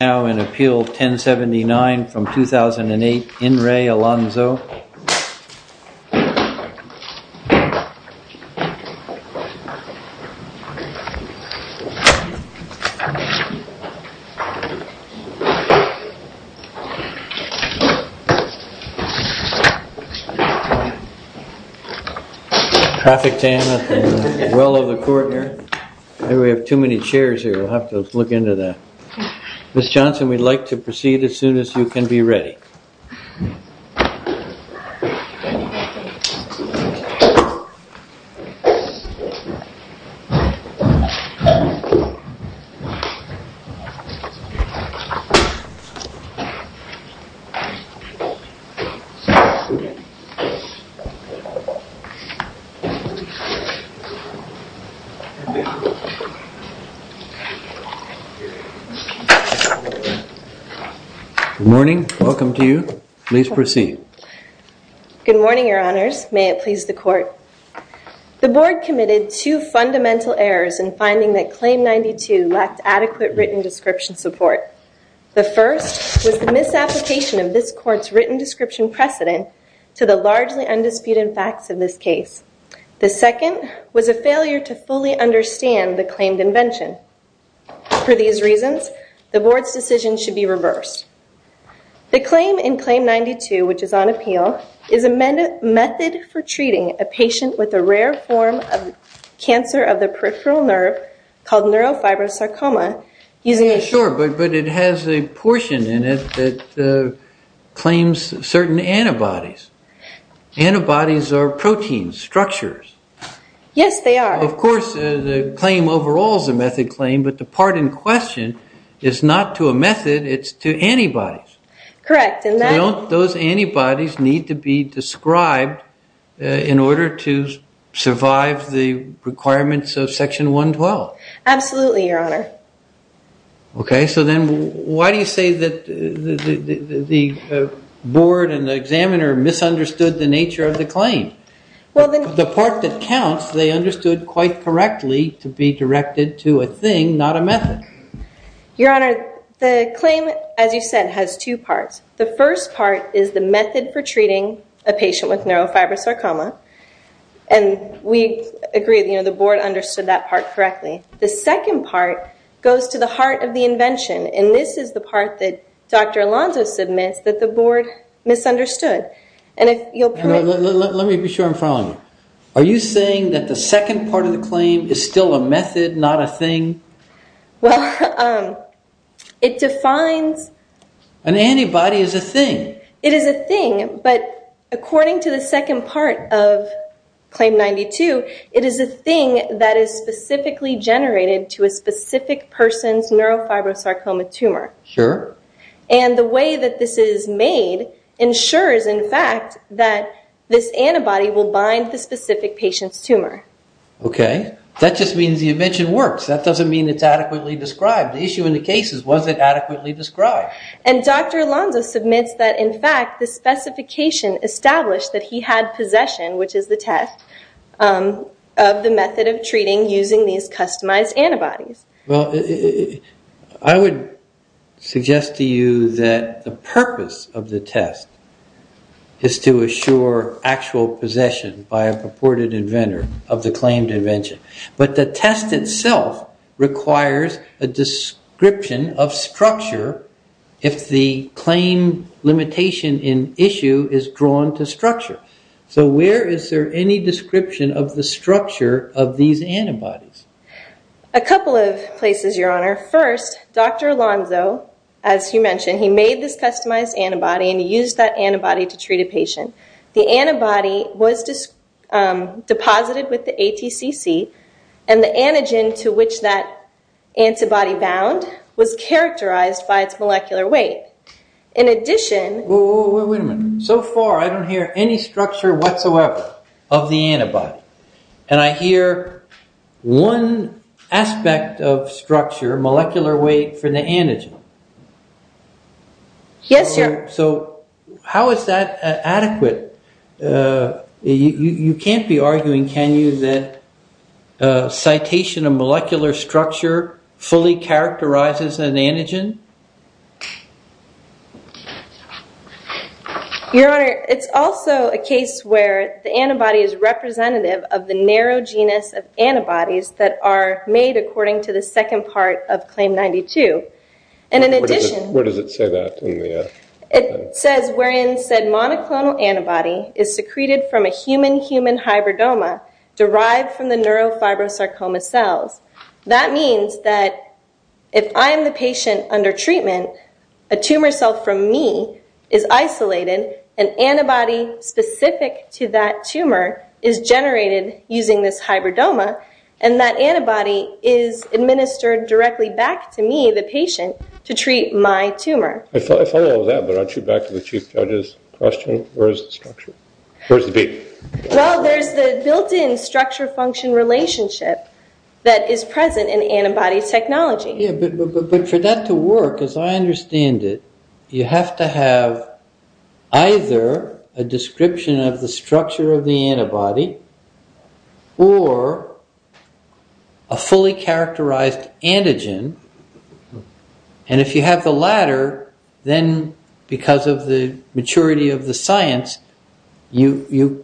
Now in Appeal 1079 from 2008, In Re Alonso. Traffic jam at the well of the court here. We have too many chairs here. We'll have to look into that. Ms. Johnson, we'd like to proceed as soon as you can be ready. Good morning. Welcome to you. Please proceed. Good morning, Your Honors. May it please the court. The board committed two fundamental errors in finding that Claim 92 lacked adequate written description support. The first was the misapplication of this court's written description precedent to the largely undisputed facts of this case. The second was a failure to fully understand the claimed invention. For these reasons, the board's decision should be reversed. The claim in Claim 92, which is on appeal, is a method for treating a patient with a rare form of cancer of the peripheral nerve called neurofibrosarcoma. Sure, but it has a portion in it that claims certain antibodies. Antibodies are proteins, structures. Yes, they are. Of course, the claim overall is a method claim, but the part in question is not to a method, it's to antibodies. Correct. Those antibodies need to be described in order to survive the requirements of Section 112. Absolutely, Your Honor. Okay, so then why do you say that the board and the examiner misunderstood the nature of the claim? The part that counts, they understood quite correctly to be directed to a thing, not a method. Your Honor, the claim, as you said, has two parts. The first part is the method for treating a patient with neurofibrosarcoma, and we agree that the board understood that part correctly. The second part goes to the heart of the invention, and this is the part that Dr. Alonzo submits that the board misunderstood. Let me be sure I'm following you. Are you saying that the second part of the claim is still a method, not a thing? Well, it defines... An antibody is a thing. It is a thing, but according to the second part of Claim 92, it is a thing that is specifically generated to a specific person's neurofibrosarcoma tumor. Sure. And the way that this is made ensures, in fact, that this antibody will bind the specific patient's tumor. Okay. That just means the invention works. That doesn't mean it's adequately described. The issue in the case is, was it adequately described? And Dr. Alonzo submits that, in fact, the specification established that he had possession, which is the test, of the method of treating using these customized antibodies. Well, I would suggest to you that the purpose of the test is to assure actual possession by a purported inventor of the claimed invention. But the test itself requires a description of structure if the claim limitation in issue is drawn to structure. So where is there any description of the structure of these antibodies? A couple of places, Your Honor. First, Dr. Alonzo, as you mentioned, he made this customized antibody and he used that antibody to treat a patient. The antibody was deposited with the ATCC and the antigen to which that antibody bound was characterized by its molecular weight. In addition... Wait a minute. So far, I don't hear any structure whatsoever of the antibody. And I hear one aspect of structure, molecular weight for the antigen. Yes, Your... So how is that adequate? You can't be arguing, can you, that citation of molecular structure fully characterizes an antigen? Your Honor, it's also a case where the antibody is representative of the narrow genus of antibodies that are made according to the second part of Claim 92. And in addition... Where does it say that in the... It says wherein said monoclonal antibody is secreted from a human-human hybridoma derived from the neurofibrosarcoma cells. That means that if I'm the patient under treatment, a tumor cell from me is isolated, an antibody specific to that tumor is generated using this hybridoma, and that antibody is administered directly back to me, the patient, to treat my tumor. I follow all that, but I'll shoot back to the Chief Judge's question, where is the structure? Where's the beat? Well, there's the built-in structure-function relationship that is present in antibody technology. But for that to work, as I understand it, you have to have either a description of the structure of the antibody or a fully characterized antigen. And if you have the latter, then because of the maturity of the science, you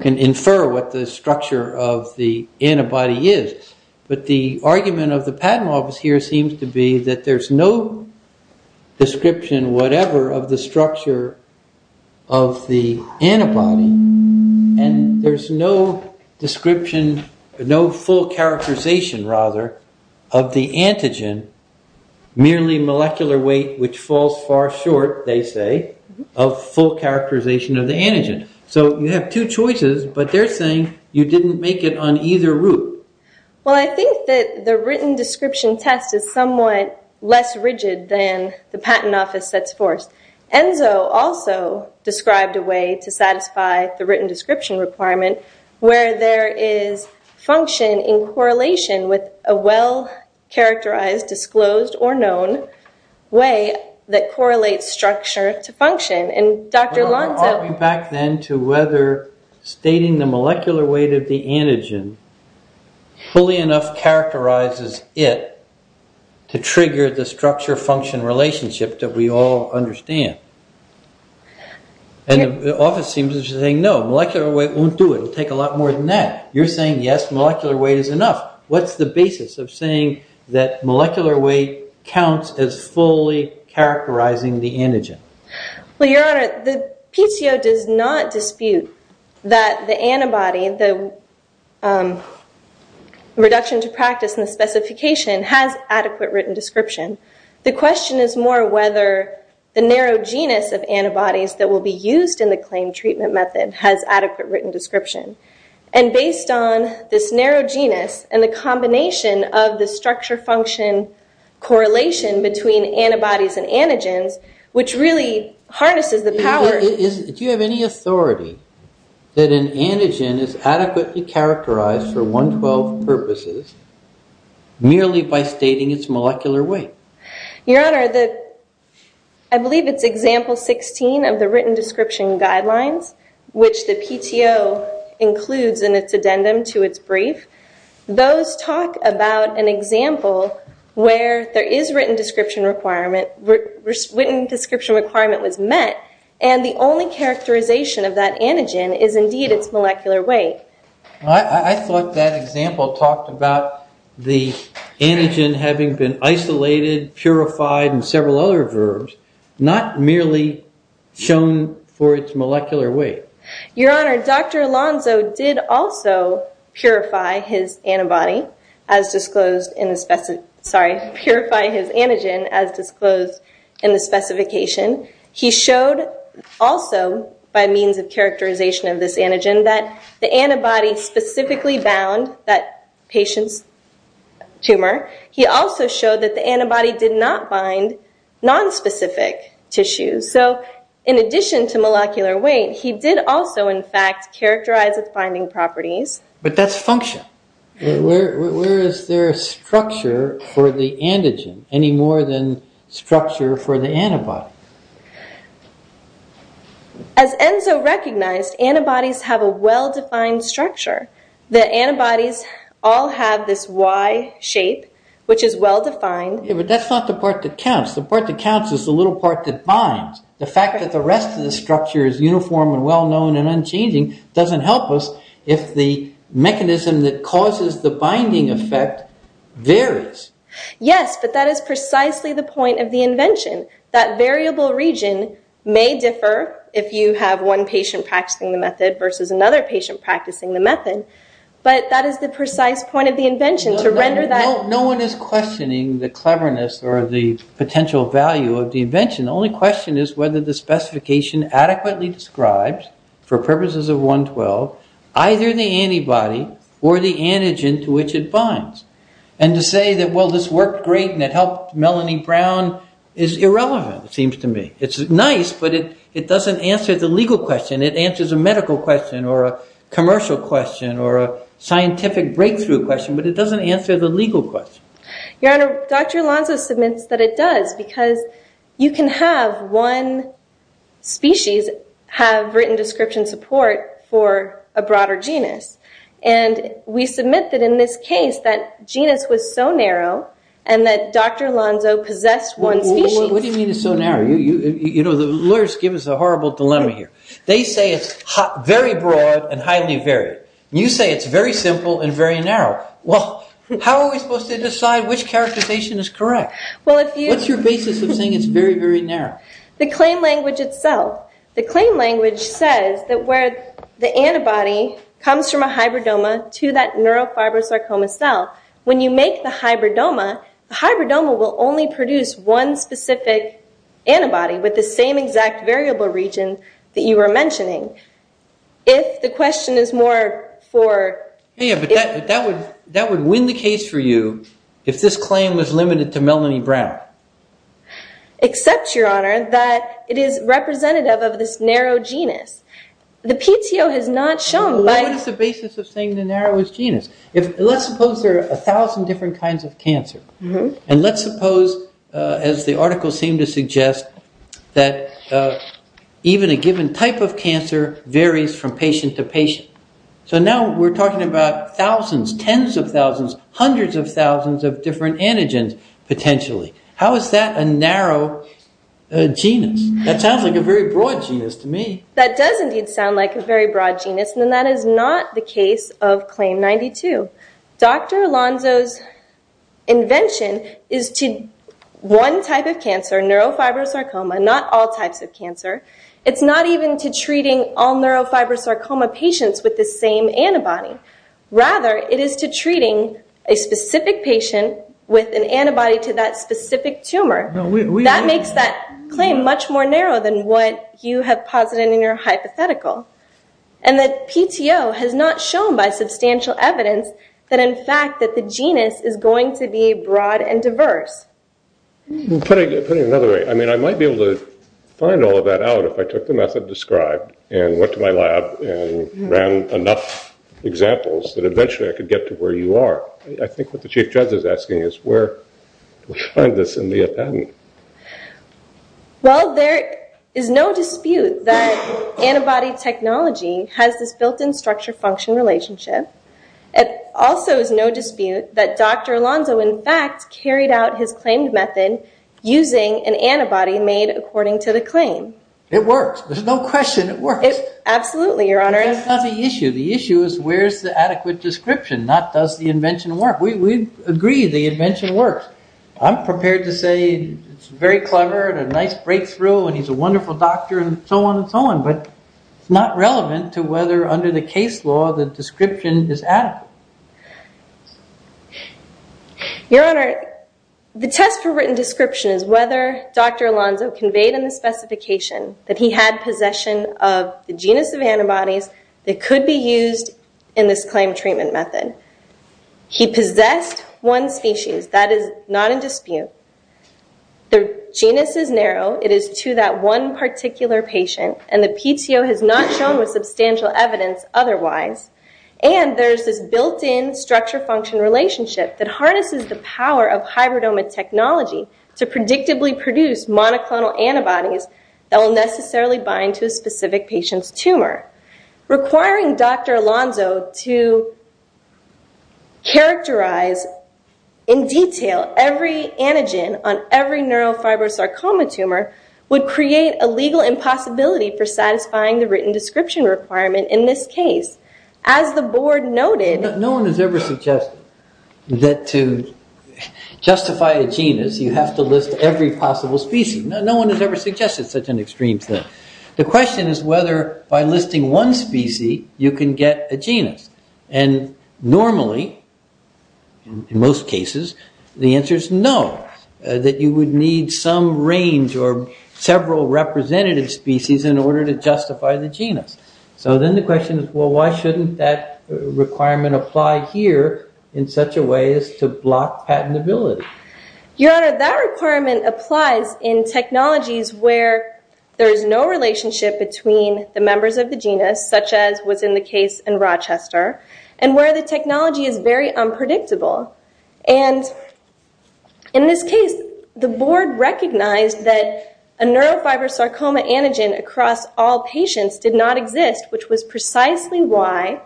can infer what the structure of the antibody is. But the argument of the patent office here seems to be that there's no description whatever of the structure of the antibody, and there's no description, no full characterization, rather, of the antigen, merely molecular weight which falls far short, they say, of full characterization of the antigen. So you have two choices, but they're saying you didn't make it on either route. Well, I think that the written description test is somewhat less rigid than the patent office sets forth. Enzo also described a way to satisfy the written description requirement, where there is function in correlation with a well-characterized, disclosed, or known way that correlates structure to function. Are we back then to whether stating the molecular weight of the antigen fully enough characterizes it to trigger the structure-function relationship that we all understand? And the office seems to be saying, no, molecular weight won't do it, it'll take a lot more than that. You're saying, yes, molecular weight is enough. What's the basis of saying that molecular weight counts as fully characterizing the antigen? Well, Your Honor, the PTO does not dispute that the antibody, the reduction to practice in the specification, has adequate written description. The question is more whether the narrow genus of antibodies that will be used in the claimed treatment method has adequate written description. And based on this narrow genus and the combination of the structure-function correlation between antibodies and antigens, which really harnesses the power... Do you have any authority that an antigen is adequately characterized for 112 purposes merely by stating its molecular weight? Your Honor, I believe it's example 16 of the written description guidelines, which the PTO includes in its addendum to its brief. Those talk about an example where there is written description requirement, written description requirement was met, and the only characterization of that antigen is indeed its molecular weight. I thought that example talked about the antigen having been isolated, purified, and several other verbs, not merely shown for its molecular weight. Your Honor, Dr. Alonzo did also purify his antibody as disclosed in the... Sorry, purify his antigen as disclosed in the specification. He showed also, by means of characterization of this antigen, that the antibody specifically bound that patient's tumor. He also showed that the antibody did not bind nonspecific tissues. So, in addition to molecular weight, he did also, in fact, characterize its binding properties. But that's function. Where is there a structure for the antigen any more than structure for the antibody? As Enzo recognized, antibodies have a well-defined structure. The antibodies all have this Y shape, which is well-defined. Yeah, but that's not the part that counts. The part that counts is the little part that binds. The fact that the rest of the structure is uniform and well-known and unchanging doesn't help us if the mechanism that causes the binding effect varies. Yes, but that is precisely the point of the invention. versus another patient practicing the method. But that is the precise point of the invention, to render that... No one is questioning the cleverness or the potential value of the invention. The only question is whether the specification adequately describes, for purposes of 112, either the antibody or the antigen to which it binds. And to say that, well, this worked great and it helped Melanie Brown, is irrelevant, it seems to me. It's nice, but it doesn't answer the legal question. It answers a medical question or a commercial question or a scientific breakthrough question, but it doesn't answer the legal question. Your Honor, Dr. Alonzo submits that it does, because you can have one species have written description support for a broader genus. And we submit that in this case, that genus was so narrow and that Dr. Alonzo possessed one species. What do you mean it's so narrow? You know, the lawyers give us a horrible dilemma here. They say it's very broad and highly varied. You say it's very simple and very narrow. Well, how are we supposed to decide which characterization is correct? What's your basis of saying it's very, very narrow? The claim language itself. The claim language says that where the antibody comes from a hybridoma to that neurofibrosarcoma cell, when you make the hybridoma, the hybridoma will only produce one specific antibody with the same exact variable region that you were mentioning. If the question is more for... Yeah, but that would win the case for you if this claim was limited to Melanie Brown. Except, Your Honor, that it is representative of this narrow genus. The PTO has not shown... What is the basis of saying the narrow is genus? Let's suppose there are 1,000 different kinds of cancer. And let's suppose, as the article seemed to suggest, that even a given type of cancer varies from patient to patient. So now we're talking about thousands, tens of thousands, hundreds of thousands of different antigens potentially. How is that a narrow genus? That sounds like a very broad genus to me. That does indeed sound like a very broad genus. Then that is not the case of Claim 92. Dr. Alonzo's invention is to one type of cancer, neurofibrosarcoma, not all types of cancer. It's not even to treating all neurofibrosarcoma patients with the same antibody. Rather, it is to treating a specific patient with an antibody to that specific tumor. That makes that claim much more narrow than what you have posited in your hypothetical. And the PTO has not shown by substantial evidence that, in fact, that the genus is going to be broad and diverse. Put it another way. I mean, I might be able to find all of that out if I took the method described and went to my lab and ran enough examples that eventually I could get to where you are. I think what the Chief Judge is asking is where do we find this and be a patent? Well, there is no dispute that antibody technology has this built-in structure-function relationship. It also is no dispute that Dr. Alonzo, in fact, carried out his claimed method using an antibody made according to the claim. It works. There's no question it works. Absolutely, Your Honor. That's not the issue. The issue is where is the adequate description, not does the invention work. We agree the invention works. I'm prepared to say it's very clever and a nice breakthrough and he's a wonderful doctor and so on and so on, but it's not relevant to whether under the case law the description is adequate. Your Honor, the test for written description is whether Dr. Alonzo conveyed in the specification that he had possession of the genus of antibodies that could be used in this claimed treatment method. He possessed one species. That is not in dispute. The genus is narrow. It is to that one particular patient and the PTO has not shown with substantial evidence otherwise and there's this built-in structure-function relationship that harnesses the power of hybridoma technology to predictably produce monoclonal antibodies that will necessarily bind to a specific patient's tumor. Requiring Dr. Alonzo to characterize in detail every antigen on every neurofibrosarcoma tumor would create a legal impossibility for satisfying the written description requirement in this case. As the board noted... No one has ever suggested that to justify a genus you have to list every possible species. No one has ever suggested such an extreme thing. The question is whether by listing one species you can get a genus. And normally, in most cases, the answer is no. That you would need some range or several representative species in order to justify the genus. So then the question is, well, why shouldn't that requirement apply here in such a way as to block patentability? Your Honor, that requirement applies in technologies where there is no relationship between the members of the genus, such as was in the case in Rochester, and where the technology is very unpredictable. And in this case, the board recognized that a neurofibrosarcoma antigen across all patients did not exist, which was precisely why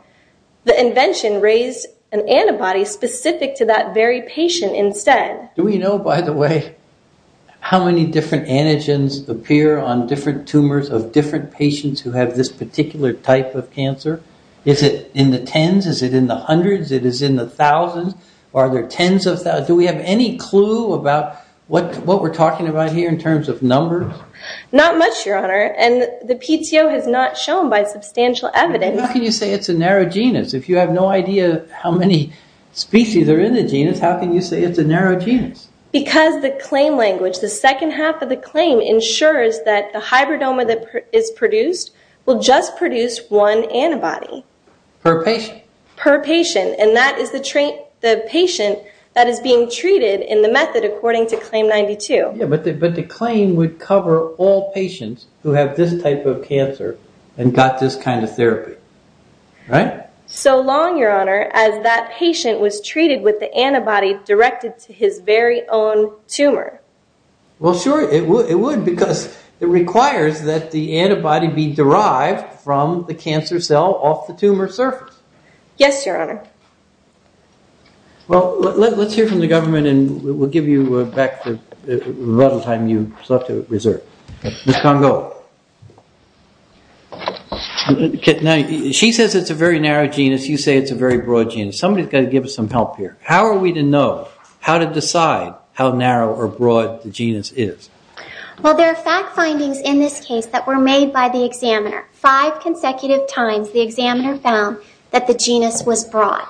the invention raised an antibody specific to that very patient instead. Do we know, by the way, how many different antigens appear on different tumors of different patients who have this particular type of cancer? Is it in the tens? Is it in the hundreds? Is it in the thousands? Are there tens of thousands? Do we have any clue about what we're talking about here in terms of numbers? Not much, Your Honor, and the PTO has not shown by substantial evidence. How can you say it's a narrow genus? If you have no idea how many species are in the genus, how can you say it's a narrow genus? Because the claim language, the second half of the claim ensures that the hybridoma that is produced will just produce one antibody. Per patient? Per patient, and that is the patient that is being treated in the method according to Claim 92. Yeah, but the claim would cover all patients who have this type of cancer and got this kind of therapy, right? So long, Your Honor, as that patient was treated with the antibody directed to his very own tumor. Well, sure, it would because it requires that the antibody be derived from the cancer cell off the tumor surface. Yes, Your Honor. Well, let's hear from the government and we'll give you back the time you have to reserve. Ms. Congo, she says it's a very narrow genus, you say it's a very broad genus. Somebody's got to give us some help here. How are we to know, how to decide how narrow or broad the genus is? Well, there are fact findings in this case that were made by the examiner. Five consecutive times the examiner found that the genus was broad.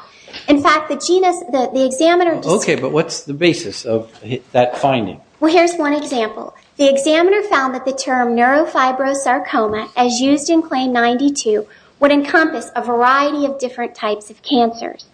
In fact, the genus, the examiner... Okay, but what's the basis of that finding? Well, here's one example. The examiner found that the term neurofibrosarcoma, as used in Claim 92, would encompass a variety of different types of cancers.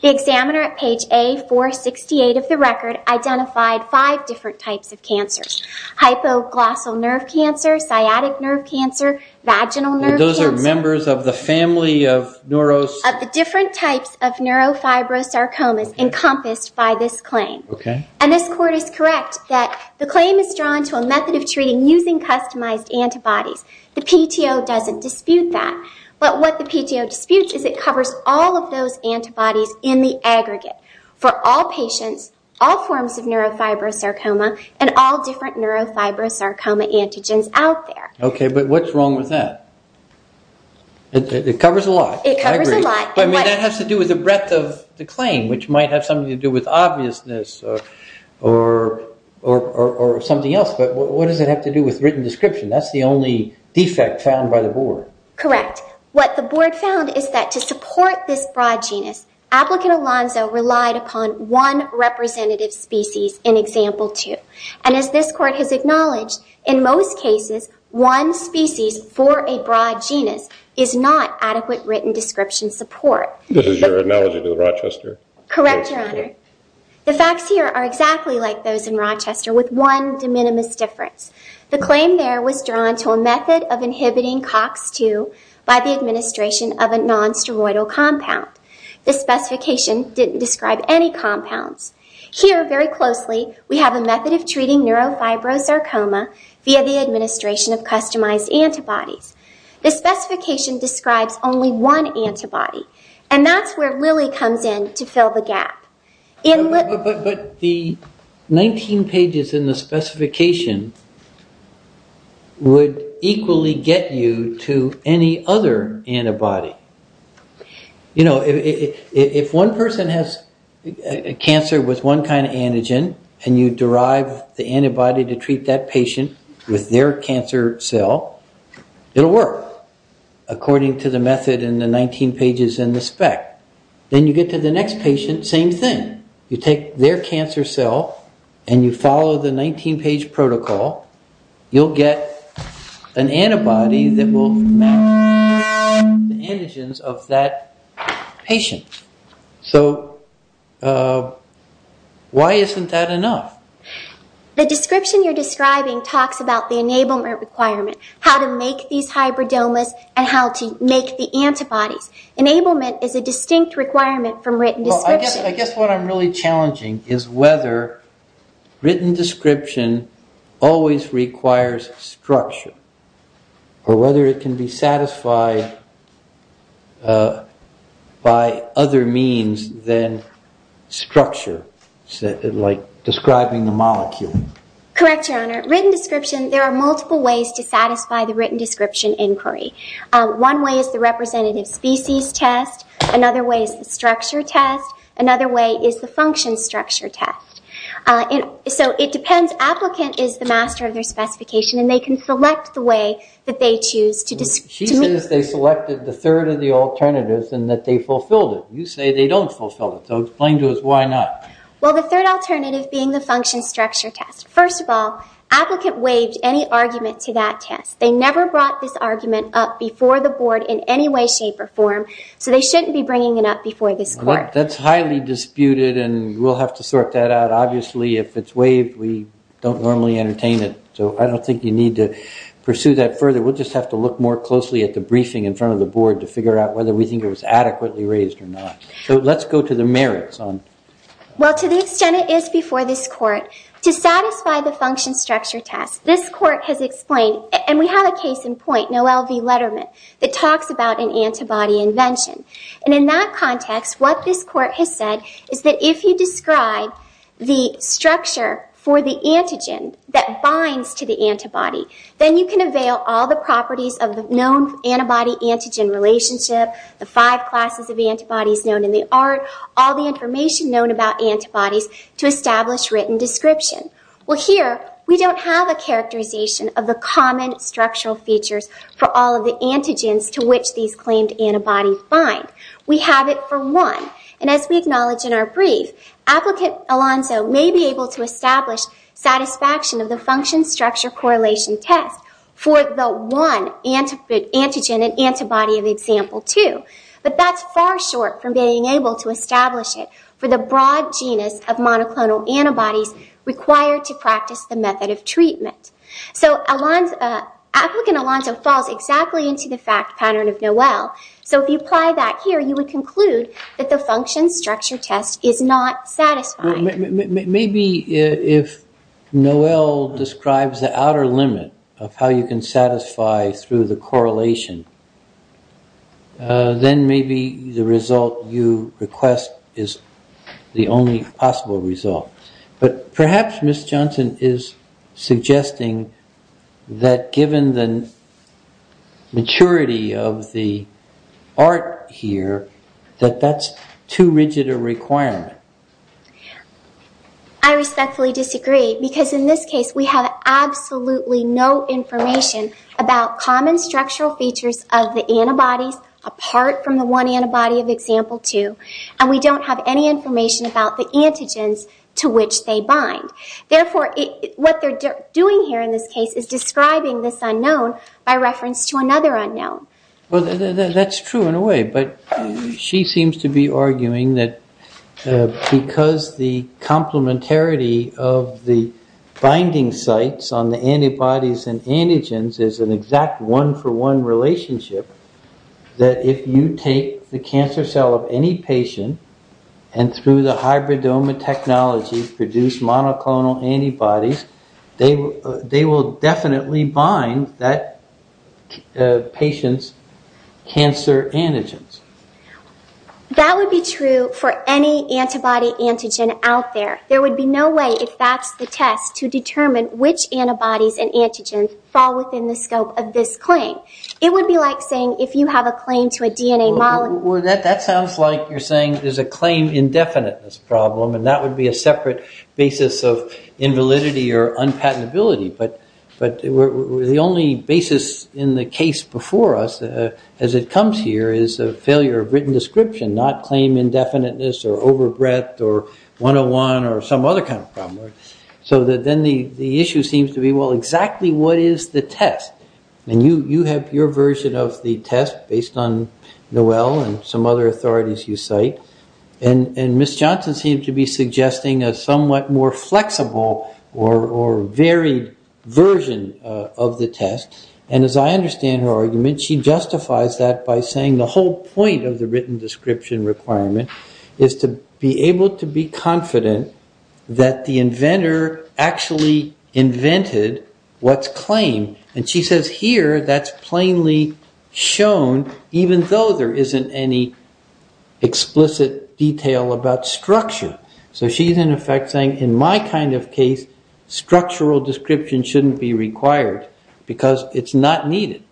The examiner at page A468 of the record identified five different types of cancers. Hypoglossal nerve cancer, sciatic nerve cancer, vaginal nerve cancer... Those are members of the family of neuros... Of the different types of neurofibrosarcomas encompassed by this claim. Okay. And this Court is correct that the claim is drawn to a method of treating using customized antibodies. The PTO doesn't dispute that. But what the PTO disputes is it covers all of those antibodies in the aggregate for all patients, all forms of neurofibrosarcoma, and all different neurofibrosarcoma antigens out there. Okay, but what's wrong with that? It covers a lot. It covers a lot. But, I mean, that has to do with the breadth of the claim, which might have something to do with obviousness or something else. But what does it have to do with written description? That's the only defect found by the Board. Correct. But what the Board found is that to support this broad genus, Applicant Alonzo relied upon one representative species in Example 2. And as this Court has acknowledged, in most cases, one species for a broad genus is not adequate written description support. This is your analogy to Rochester? Correct, Your Honor. The facts here are exactly like those in Rochester with one de minimis difference. The claim there was drawn to a method of inhibiting COX-2 by the administration of a non-steroidal compound. The specification didn't describe any compounds. Here, very closely, we have a method of treating neurofibrosarcoma via the administration of customized antibodies. The specification describes only one antibody, and that's where Lilly comes in to fill the gap. But the 19 pages in the specification would equally get you to any other antibody. You know, if one person has cancer with one kind of antigen, and you derive the antibody to treat that patient with their cancer cell, it'll work according to the method in the 19 pages in the spec. Then you get to the next patient, same thing. You take their cancer cell, and you follow the 19 page protocol, you'll get an antibody that will match the antigens of that patient. So, why isn't that enough? The description you're describing talks about the enablement requirement, how to make these hybridomas, and how to make the antibodies. Enablement is a distinct requirement from written description. Well, I guess what I'm really challenging is whether written description always requires structure, or whether it can be satisfied by other means than structure, like describing the molecule. Correct, Your Honor. Written description, there are multiple ways to satisfy the written description inquiry. One way is the representative species test. Another way is the structure test. Another way is the function structure test. So, it depends. Applicant is the master of their specification, and they can select the way that they choose. She says they selected the third of the alternatives, and that they fulfilled it. You say they don't fulfill it, so explain to us why not. Well, the third alternative being the function structure test. First of all, applicant waived any argument to that test. They never brought this argument up before the board in any way, shape, or form, so they shouldn't be bringing it up before this court. That's highly disputed, and we'll have to sort that out. Obviously, if it's waived, we don't normally entertain it. So, I don't think you need to pursue that further. We'll just have to look more closely at the briefing in front of the board to figure out whether we think it was adequately raised or not. So, let's go to the merits. Well, to the extent it is before this court, to satisfy the function structure test, this court has explained, and we have a case in point, Noel V. Letterman, that talks about an antibody invention. In that context, what this court has said is that if you describe the structure for the antigen that binds to the antibody, then you can avail all the properties of the known antibody-antigen relationship, the five classes of antibodies known in the art, all the information known about antibodies to establish written description. Well, here, we don't have a characterization of the common structural features for all of the antigens to which these claimed antibodies bind. We have it for one, and as we acknowledge in our brief, applicant Alonzo may be able to establish satisfaction of the function structure correlation test for the one antigen and antibody of example two, but that's far short from being able to establish it for the broad genus of monoclonal antibodies required to practice the method of treatment. So applicant Alonzo falls exactly into the fact pattern of Noel. So if you apply that here, you would conclude that the function structure test is not satisfying. Maybe if Noel describes the outer limit of how you can satisfy through the correlation, then maybe the result you request is the only possible result. But perhaps Ms. Johnson is suggesting that given the maturity of the art here, that that's too rigid a requirement. I respectfully disagree, because in this case, we have absolutely no information about common structural features of the antibodies apart from the one antibody of example two, and we don't have any information about the antigens to which they bind. Therefore, what they're doing here in this case is describing this unknown by reference to another unknown. Well, that's true in a way, but she seems to be arguing that because the complementarity of the binding sites on the antibodies and antigens is an exact one-for-one relationship, that if you take the cancer cell of any patient and through the hybridoma technology produce monoclonal antibodies, they will definitely bind that patient's cancer antigens. That would be true for any antibody antigen out there. There would be no way, if that's the test, to determine which antibodies and antigens fall within the scope of this claim. It would be like saying if you have a claim to a DNA molecule... Well, that sounds like you're saying there's a claim indefiniteness problem, and that would be a separate basis of invalidity or unpatentability. But the only basis in the case before us as it comes here is a failure of written description, not claim indefiniteness or over breadth or 101 or some other kind of problem. So then the issue seems to be, well, exactly what is the test? And you have your version of the test based on Noel and some other authorities you cite, and Ms. Johnson seems to be suggesting a somewhat more flexible or varied version of the test. And as I understand her argument, she justifies that by saying the whole point of the written description requirement is to be able to be confident that the inventor actually invented what's claimed. And she says here that's plainly shown even though there isn't any explicit detail about structure. So she's in effect saying in my kind of case, structural description shouldn't be required because it's not needed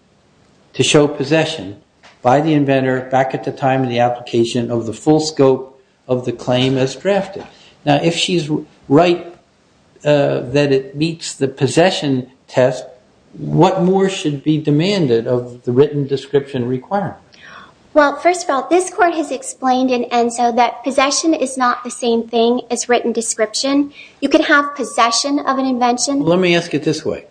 to show possession by the inventor back at the time of the application of the full scope of the claim as drafted. Now, if she's right that it meets the possession test, what more should be demanded of the written description requirement? Well, first of all, this Court has explained in ENSO that possession is not the same thing as written description. You can have possession of an invention. Let me ask it this way.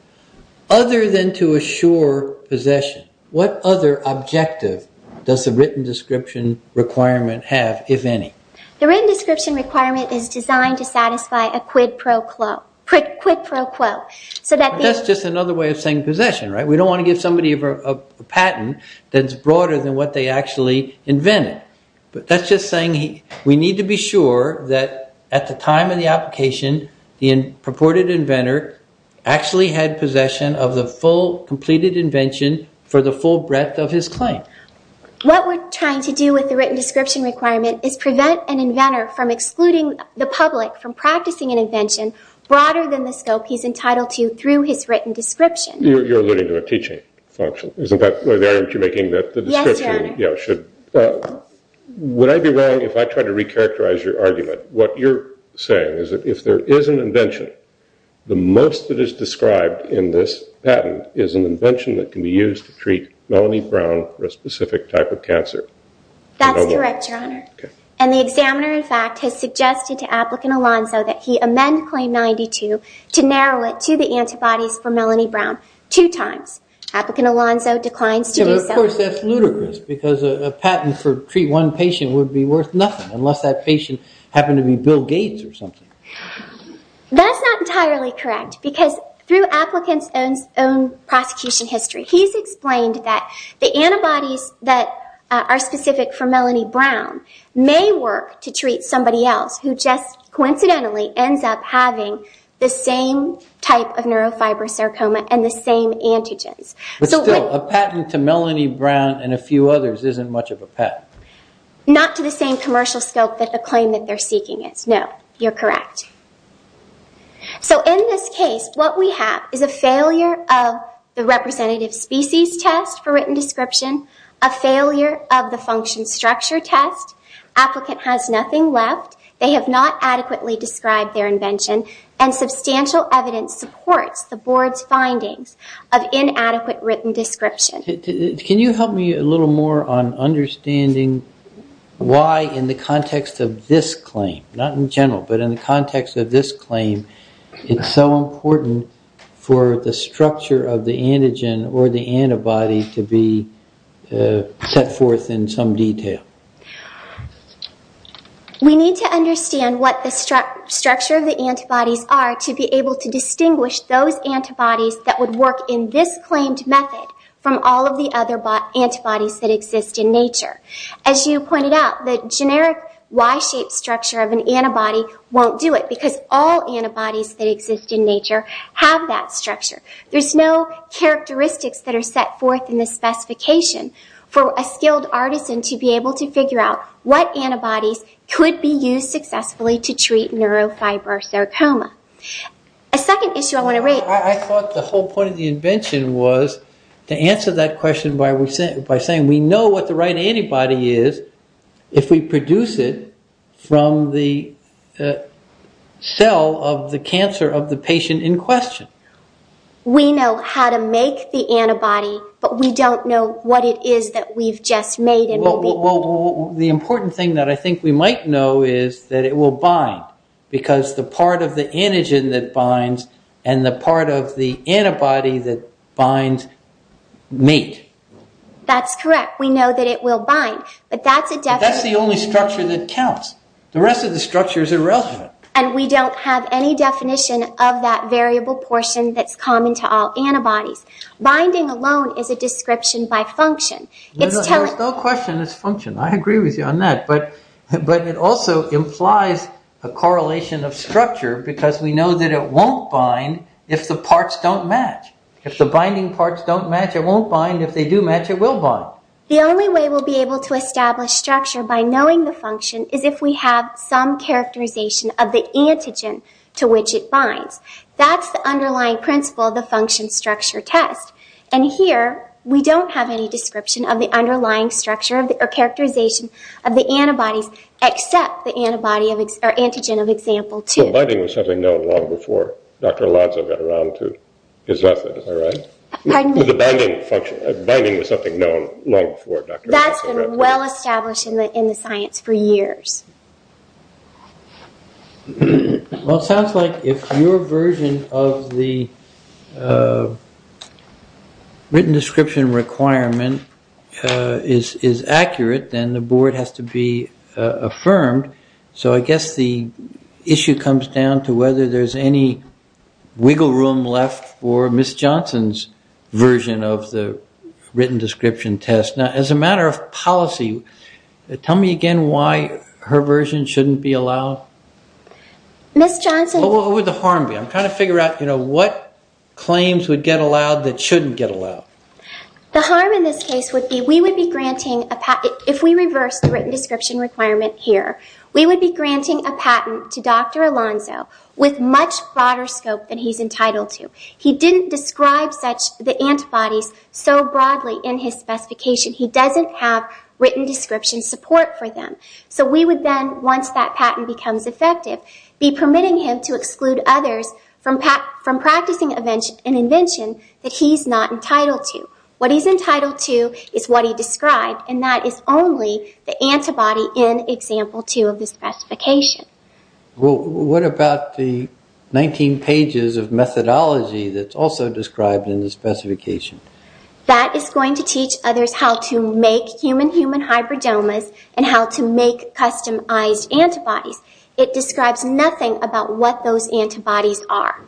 Other than to assure possession, what other objective does the written description requirement have, if any? The written description requirement is designed to satisfy a quid pro quo. But that's just another way of saying possession, right? We don't want to give somebody a patent that's broader than what they actually invented. But that's just saying we need to be sure that at the time of the application, the purported inventor actually had possession of the full completed invention for the full breadth of his claim. What we're trying to do with the written description requirement is prevent an inventor from excluding the public from practicing an invention broader than the scope he's entitled to through his written description. You're alluding to a teaching function, isn't that the argument you're making? Yes, Your Honor. Would I be wrong if I tried to recharacterize your argument? What you're saying is that if there is an invention, the most that is described in this patent is an invention that can be used to treat Melanie Brown for a specific type of cancer. That's correct, Your Honor. And the examiner, in fact, has suggested to Applicant Alonzo that he amend Claim 92 to narrow it to the antibodies for Melanie Brown two times. Applicant Alonzo declines to do so. But, of course, that's ludicrous, because a patent for treat one patient would be worth nothing unless that patient happened to be Bill Gates or something. That's not entirely correct, because through Applicant's own prosecution history, he's explained that the antibodies that are specific for Melanie Brown may work to treat somebody else who just coincidentally ends up having the same type of neurofibrosarcoma and the same antigens. But still, a patent to Melanie Brown and a few others isn't much of a patent. Not to the same commercial scope that the claim that they're seeking is. No, you're correct. So in this case, what we have is a failure of the representative species test for written description, a failure of the function structure test. Applicant has nothing left. They have not adequately described their invention, and substantial evidence supports the Board's findings of inadequate written description. Can you help me a little more on understanding why, in the context of this claim, not in general, but in the context of this claim, it's so important for the structure of the antigen or the antibody to be set forth in some detail? We need to understand what the structure of the antibodies are to be able to distinguish those antibodies that would work in this claimed method from all of the other antibodies that exist in nature. As you pointed out, the generic Y-shaped structure of an antibody won't do it because all antibodies that exist in nature have that structure. There's no characteristics that are set forth in the specification for a skilled artisan to be able to figure out what antibodies could be used successfully to treat neurofibrosarcoma. A second issue I want to raise... I thought the whole point of the invention was to answer that question by saying we know what the right antibody is if we produce it from the cell of the cancer of the patient in question. We know how to make the antibody, but we don't know what it is that we've just made and will be... Well, the important thing that I think we might know is that it will bind because the part of the antigen that binds and the part of the antibody that binds meet. That's correct. We know that it will bind. But that's the only structure that counts. The rest of the structure is irrelevant. And we don't have any definition of that variable portion that's common to all antibodies. Binding alone is a description by function. There's no question it's function. I agree with you on that. But it also implies a correlation of structure because we know that it won't bind if the parts don't match. If the binding parts don't match, it won't bind. If they do match, it will bind. The only way we'll be able to establish structure by knowing the function is if we have some characterization of the antigen to which it binds. That's the underlying principle of the function structure test. And here, we don't have any description of the underlying structure or characterization of the antibodies except the antibody or antigen of example 2. So binding was something known long before Dr. Lanza got around to his method. Is that right? Pardon me? The binding was something known long before Dr. Lanza got around to it. That's been well established in the science for years. Well, it sounds like if your version of the written description requirement is accurate, then the board has to be affirmed. So I guess the issue comes down to whether there's any wiggle room left for Ms. Johnson's version of the written description test. Now, as a matter of policy, tell me again why her version shouldn't be allowed? Ms. Johnson What would the harm be? I'm trying to figure out what claims would get allowed that shouldn't get allowed. The harm in this case would be we would be granting a patent if we reverse the written description requirement here, we would be granting a patent to Dr. Alonzo with much broader scope than he's entitled to. He didn't describe the antibodies so broadly in his specification. He doesn't have written description support for them. So we would then, once that patent becomes effective, be permitting him to exclude others from practicing an invention that he's not entitled to. What he's entitled to is what he described, and that is only the antibody in Example 2 of the specification. Well, what about the 19 pages of methodology that's also described in the specification? That is going to teach others how to make human-human hybridomas and how to make customized antibodies. It describes nothing about what those antibodies are.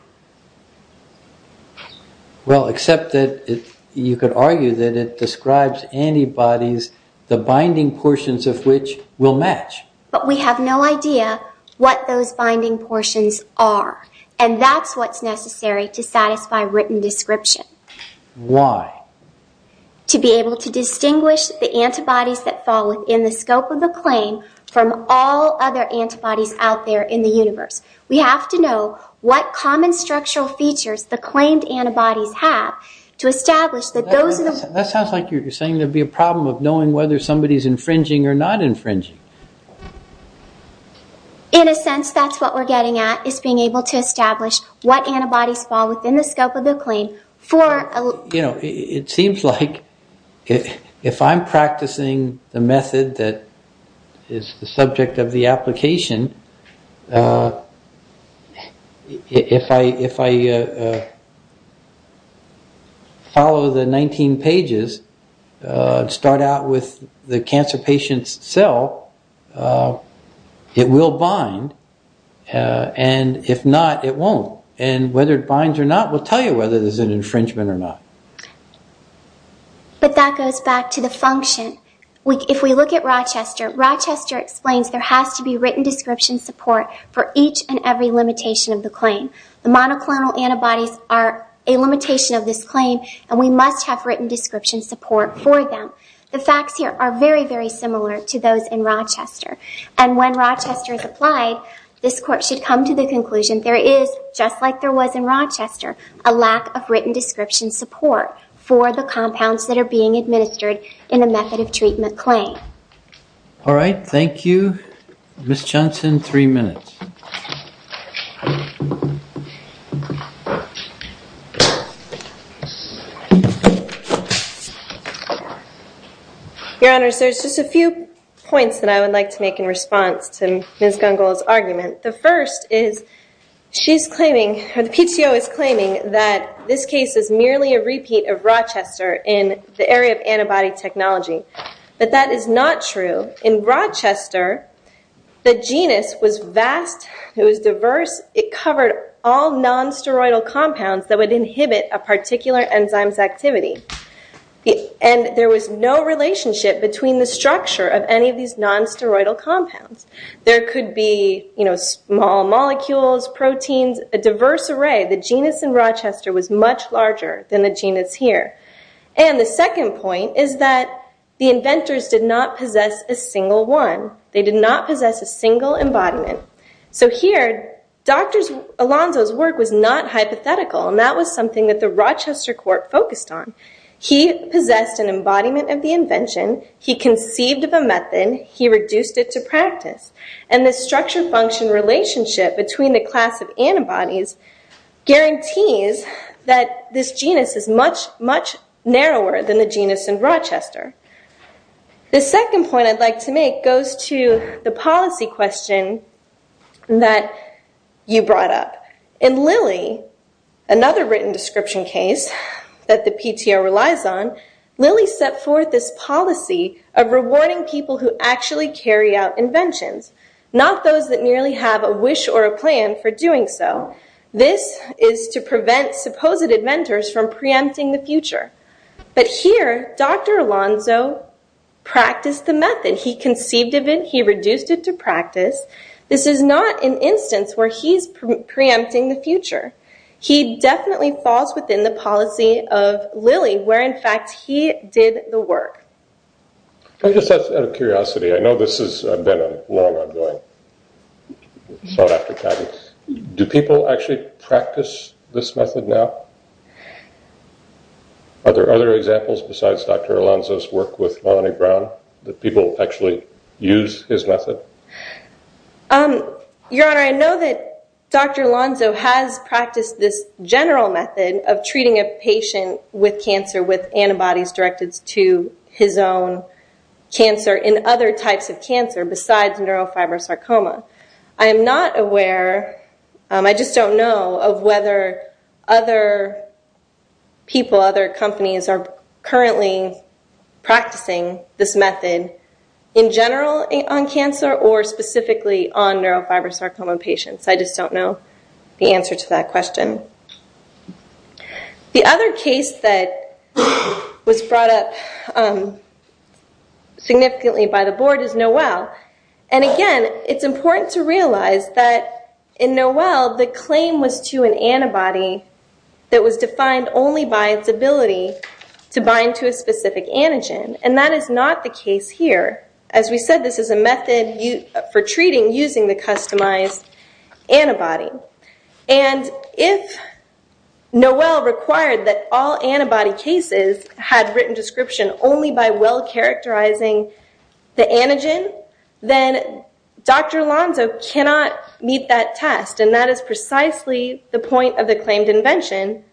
Well, except that you could argue that it describes antibodies, the binding portions of which will match. But we have no idea what those binding portions are, and that's what's necessary to satisfy written description. Why? To be able to distinguish the antibodies that fall within the scope of the claim from all other antibodies out there in the universe. We have to know what common structural features the claimed antibodies have to establish that those... That sounds like you're saying there'd be a problem of knowing whether somebody's infringing or not infringing. In a sense, that's what we're getting at, is being able to establish what antibodies fall within the scope of the claim for... You know, it seems like if I'm practicing the method that is the subject of the application, if I follow the 19 pages, start out with the cancer patient's cell, it will bind, and if not, it won't. And whether it binds or not will tell you whether there's an infringement or not. But that goes back to the function. If we look at Rochester, Rochester explains there has to be written description support for each and every limitation of the claim. The monoclonal antibodies are a limitation of this claim, and we must have written description support for them. The facts here are very, very similar to those in Rochester. And when Rochester is applied, this Court should come to the conclusion there is, just like there was in Rochester, a lack of written description support for the compounds that are being administered in a method of treatment claim. All right, thank you. Ms. Johnson, three minutes. Your Honors, there's just a few points that I would like to make in response to Ms. Gungle's argument. The first is she's claiming, or the PTO is claiming, that this case is merely a repeat of Rochester in the area of antibody technology. But that is not true. In Rochester, the genus was vast, it was diverse, it covered all non-steroidal compounds that would inhibit a particular enzyme's activity. And there was no relationship between the structure of any of these non-steroidal compounds. There could be, you know, small molecules, proteins, a diverse array. The genus in Rochester was much larger than the genus here. And the second point is that the inventors did not possess a single one. They did not possess a single embodiment. So here, Dr. Alonzo's work was not hypothetical, and that was something that the Rochester Court focused on. He possessed an embodiment of the invention, he conceived of a method, he reduced it to practice. And this structure-function relationship between the class of antibodies guarantees that this genus is much, much narrower than the genus in Rochester. The second point I'd like to make goes to the policy question that you brought up. In Lilly, another written description case that the PTO relies on, Lilly set forth this policy of rewarding people who actually carry out inventions, not those that merely have a wish or a plan for doing so. This is to prevent supposed inventors from preempting the future. But here, Dr. Alonzo practiced the method. He conceived of it, he reduced it to practice. This is not an instance where he's preempting the future. He definitely falls within the policy of Lilly, where, in fact, he did the work. I'm just out of curiosity. I know this has been a long ongoing thought after time. Do people actually practice this method now? Are there other examples besides Dr. Alonzo's work with Lonnie Brown, that people actually use his method? Your Honor, I know that Dr. Alonzo has practiced this general method of treating a patient with cancer with antibodies directed to his own cancer and other types of cancer besides neurofibrosarcoma. I am not aware, I just don't know, of whether other people, other companies, are currently practicing this method in general on cancer or specifically on neurofibrosarcoma patients. I just don't know the answer to that question. The other case that was brought up significantly by the Board is Noel. Again, it's important to realize that in Noel, the claim was to an antibody that was defined only by its ability to bind to a specific antigen. That is not the case here. As we said, this is a method for treating using the customized antibody. And if Noel required that all antibody cases had written description only by well characterizing the antigen, then Dr. Alonzo cannot meet that test. And that is precisely the point of the claimed invention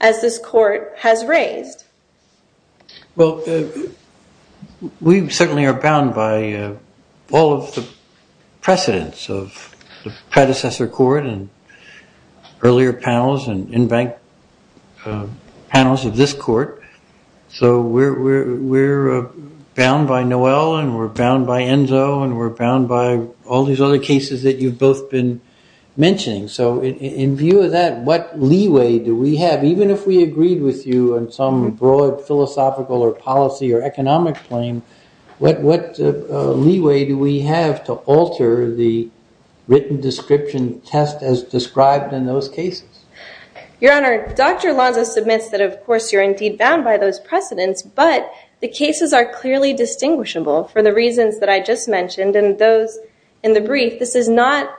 as this Court has raised. Well, we certainly are bound by all of the precedents of the predecessor Court and earlier panels and in-bank panels of this Court. So we're bound by Noel and we're bound by Enzo and we're bound by all these other cases that you've both been mentioning. So in view of that, what leeway do we have, even if we agreed with you in some broad philosophical or policy or economic plane, what leeway do we have to alter the written description test as described in those cases? Your Honor, Dr. Alonzo submits that, of course, you're indeed bound by those precedents, but the cases are clearly distinguishable for the reasons that I just mentioned and those in the brief, this is not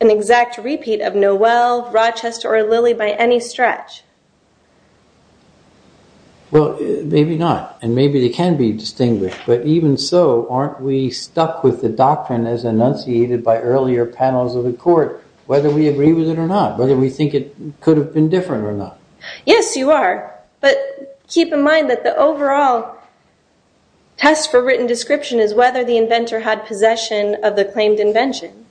an exact repeat of Noel, Rochester, or Lilly by any stretch. Well, maybe not. And maybe they can be distinguished. But even so, aren't we stuck with the doctrine as enunciated by earlier panels of the Court, whether we agree with it or not, whether we think it could have been different or not? Yes, you are. But keep in mind that the overall test for written description is whether the inventor had possession of the claimed invention.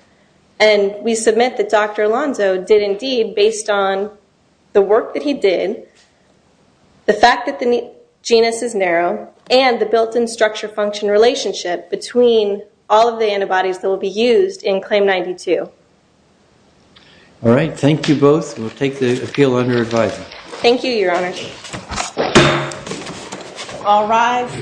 And we submit that Dr. Alonzo did indeed, based on the work that he did, the fact that the genus is narrow, and the built-in structure-function relationship between all of the antibodies that will be used in Claim 92. All right. Thank you both. We'll take the appeal under advisory. Thank you, Your Honor. All rise.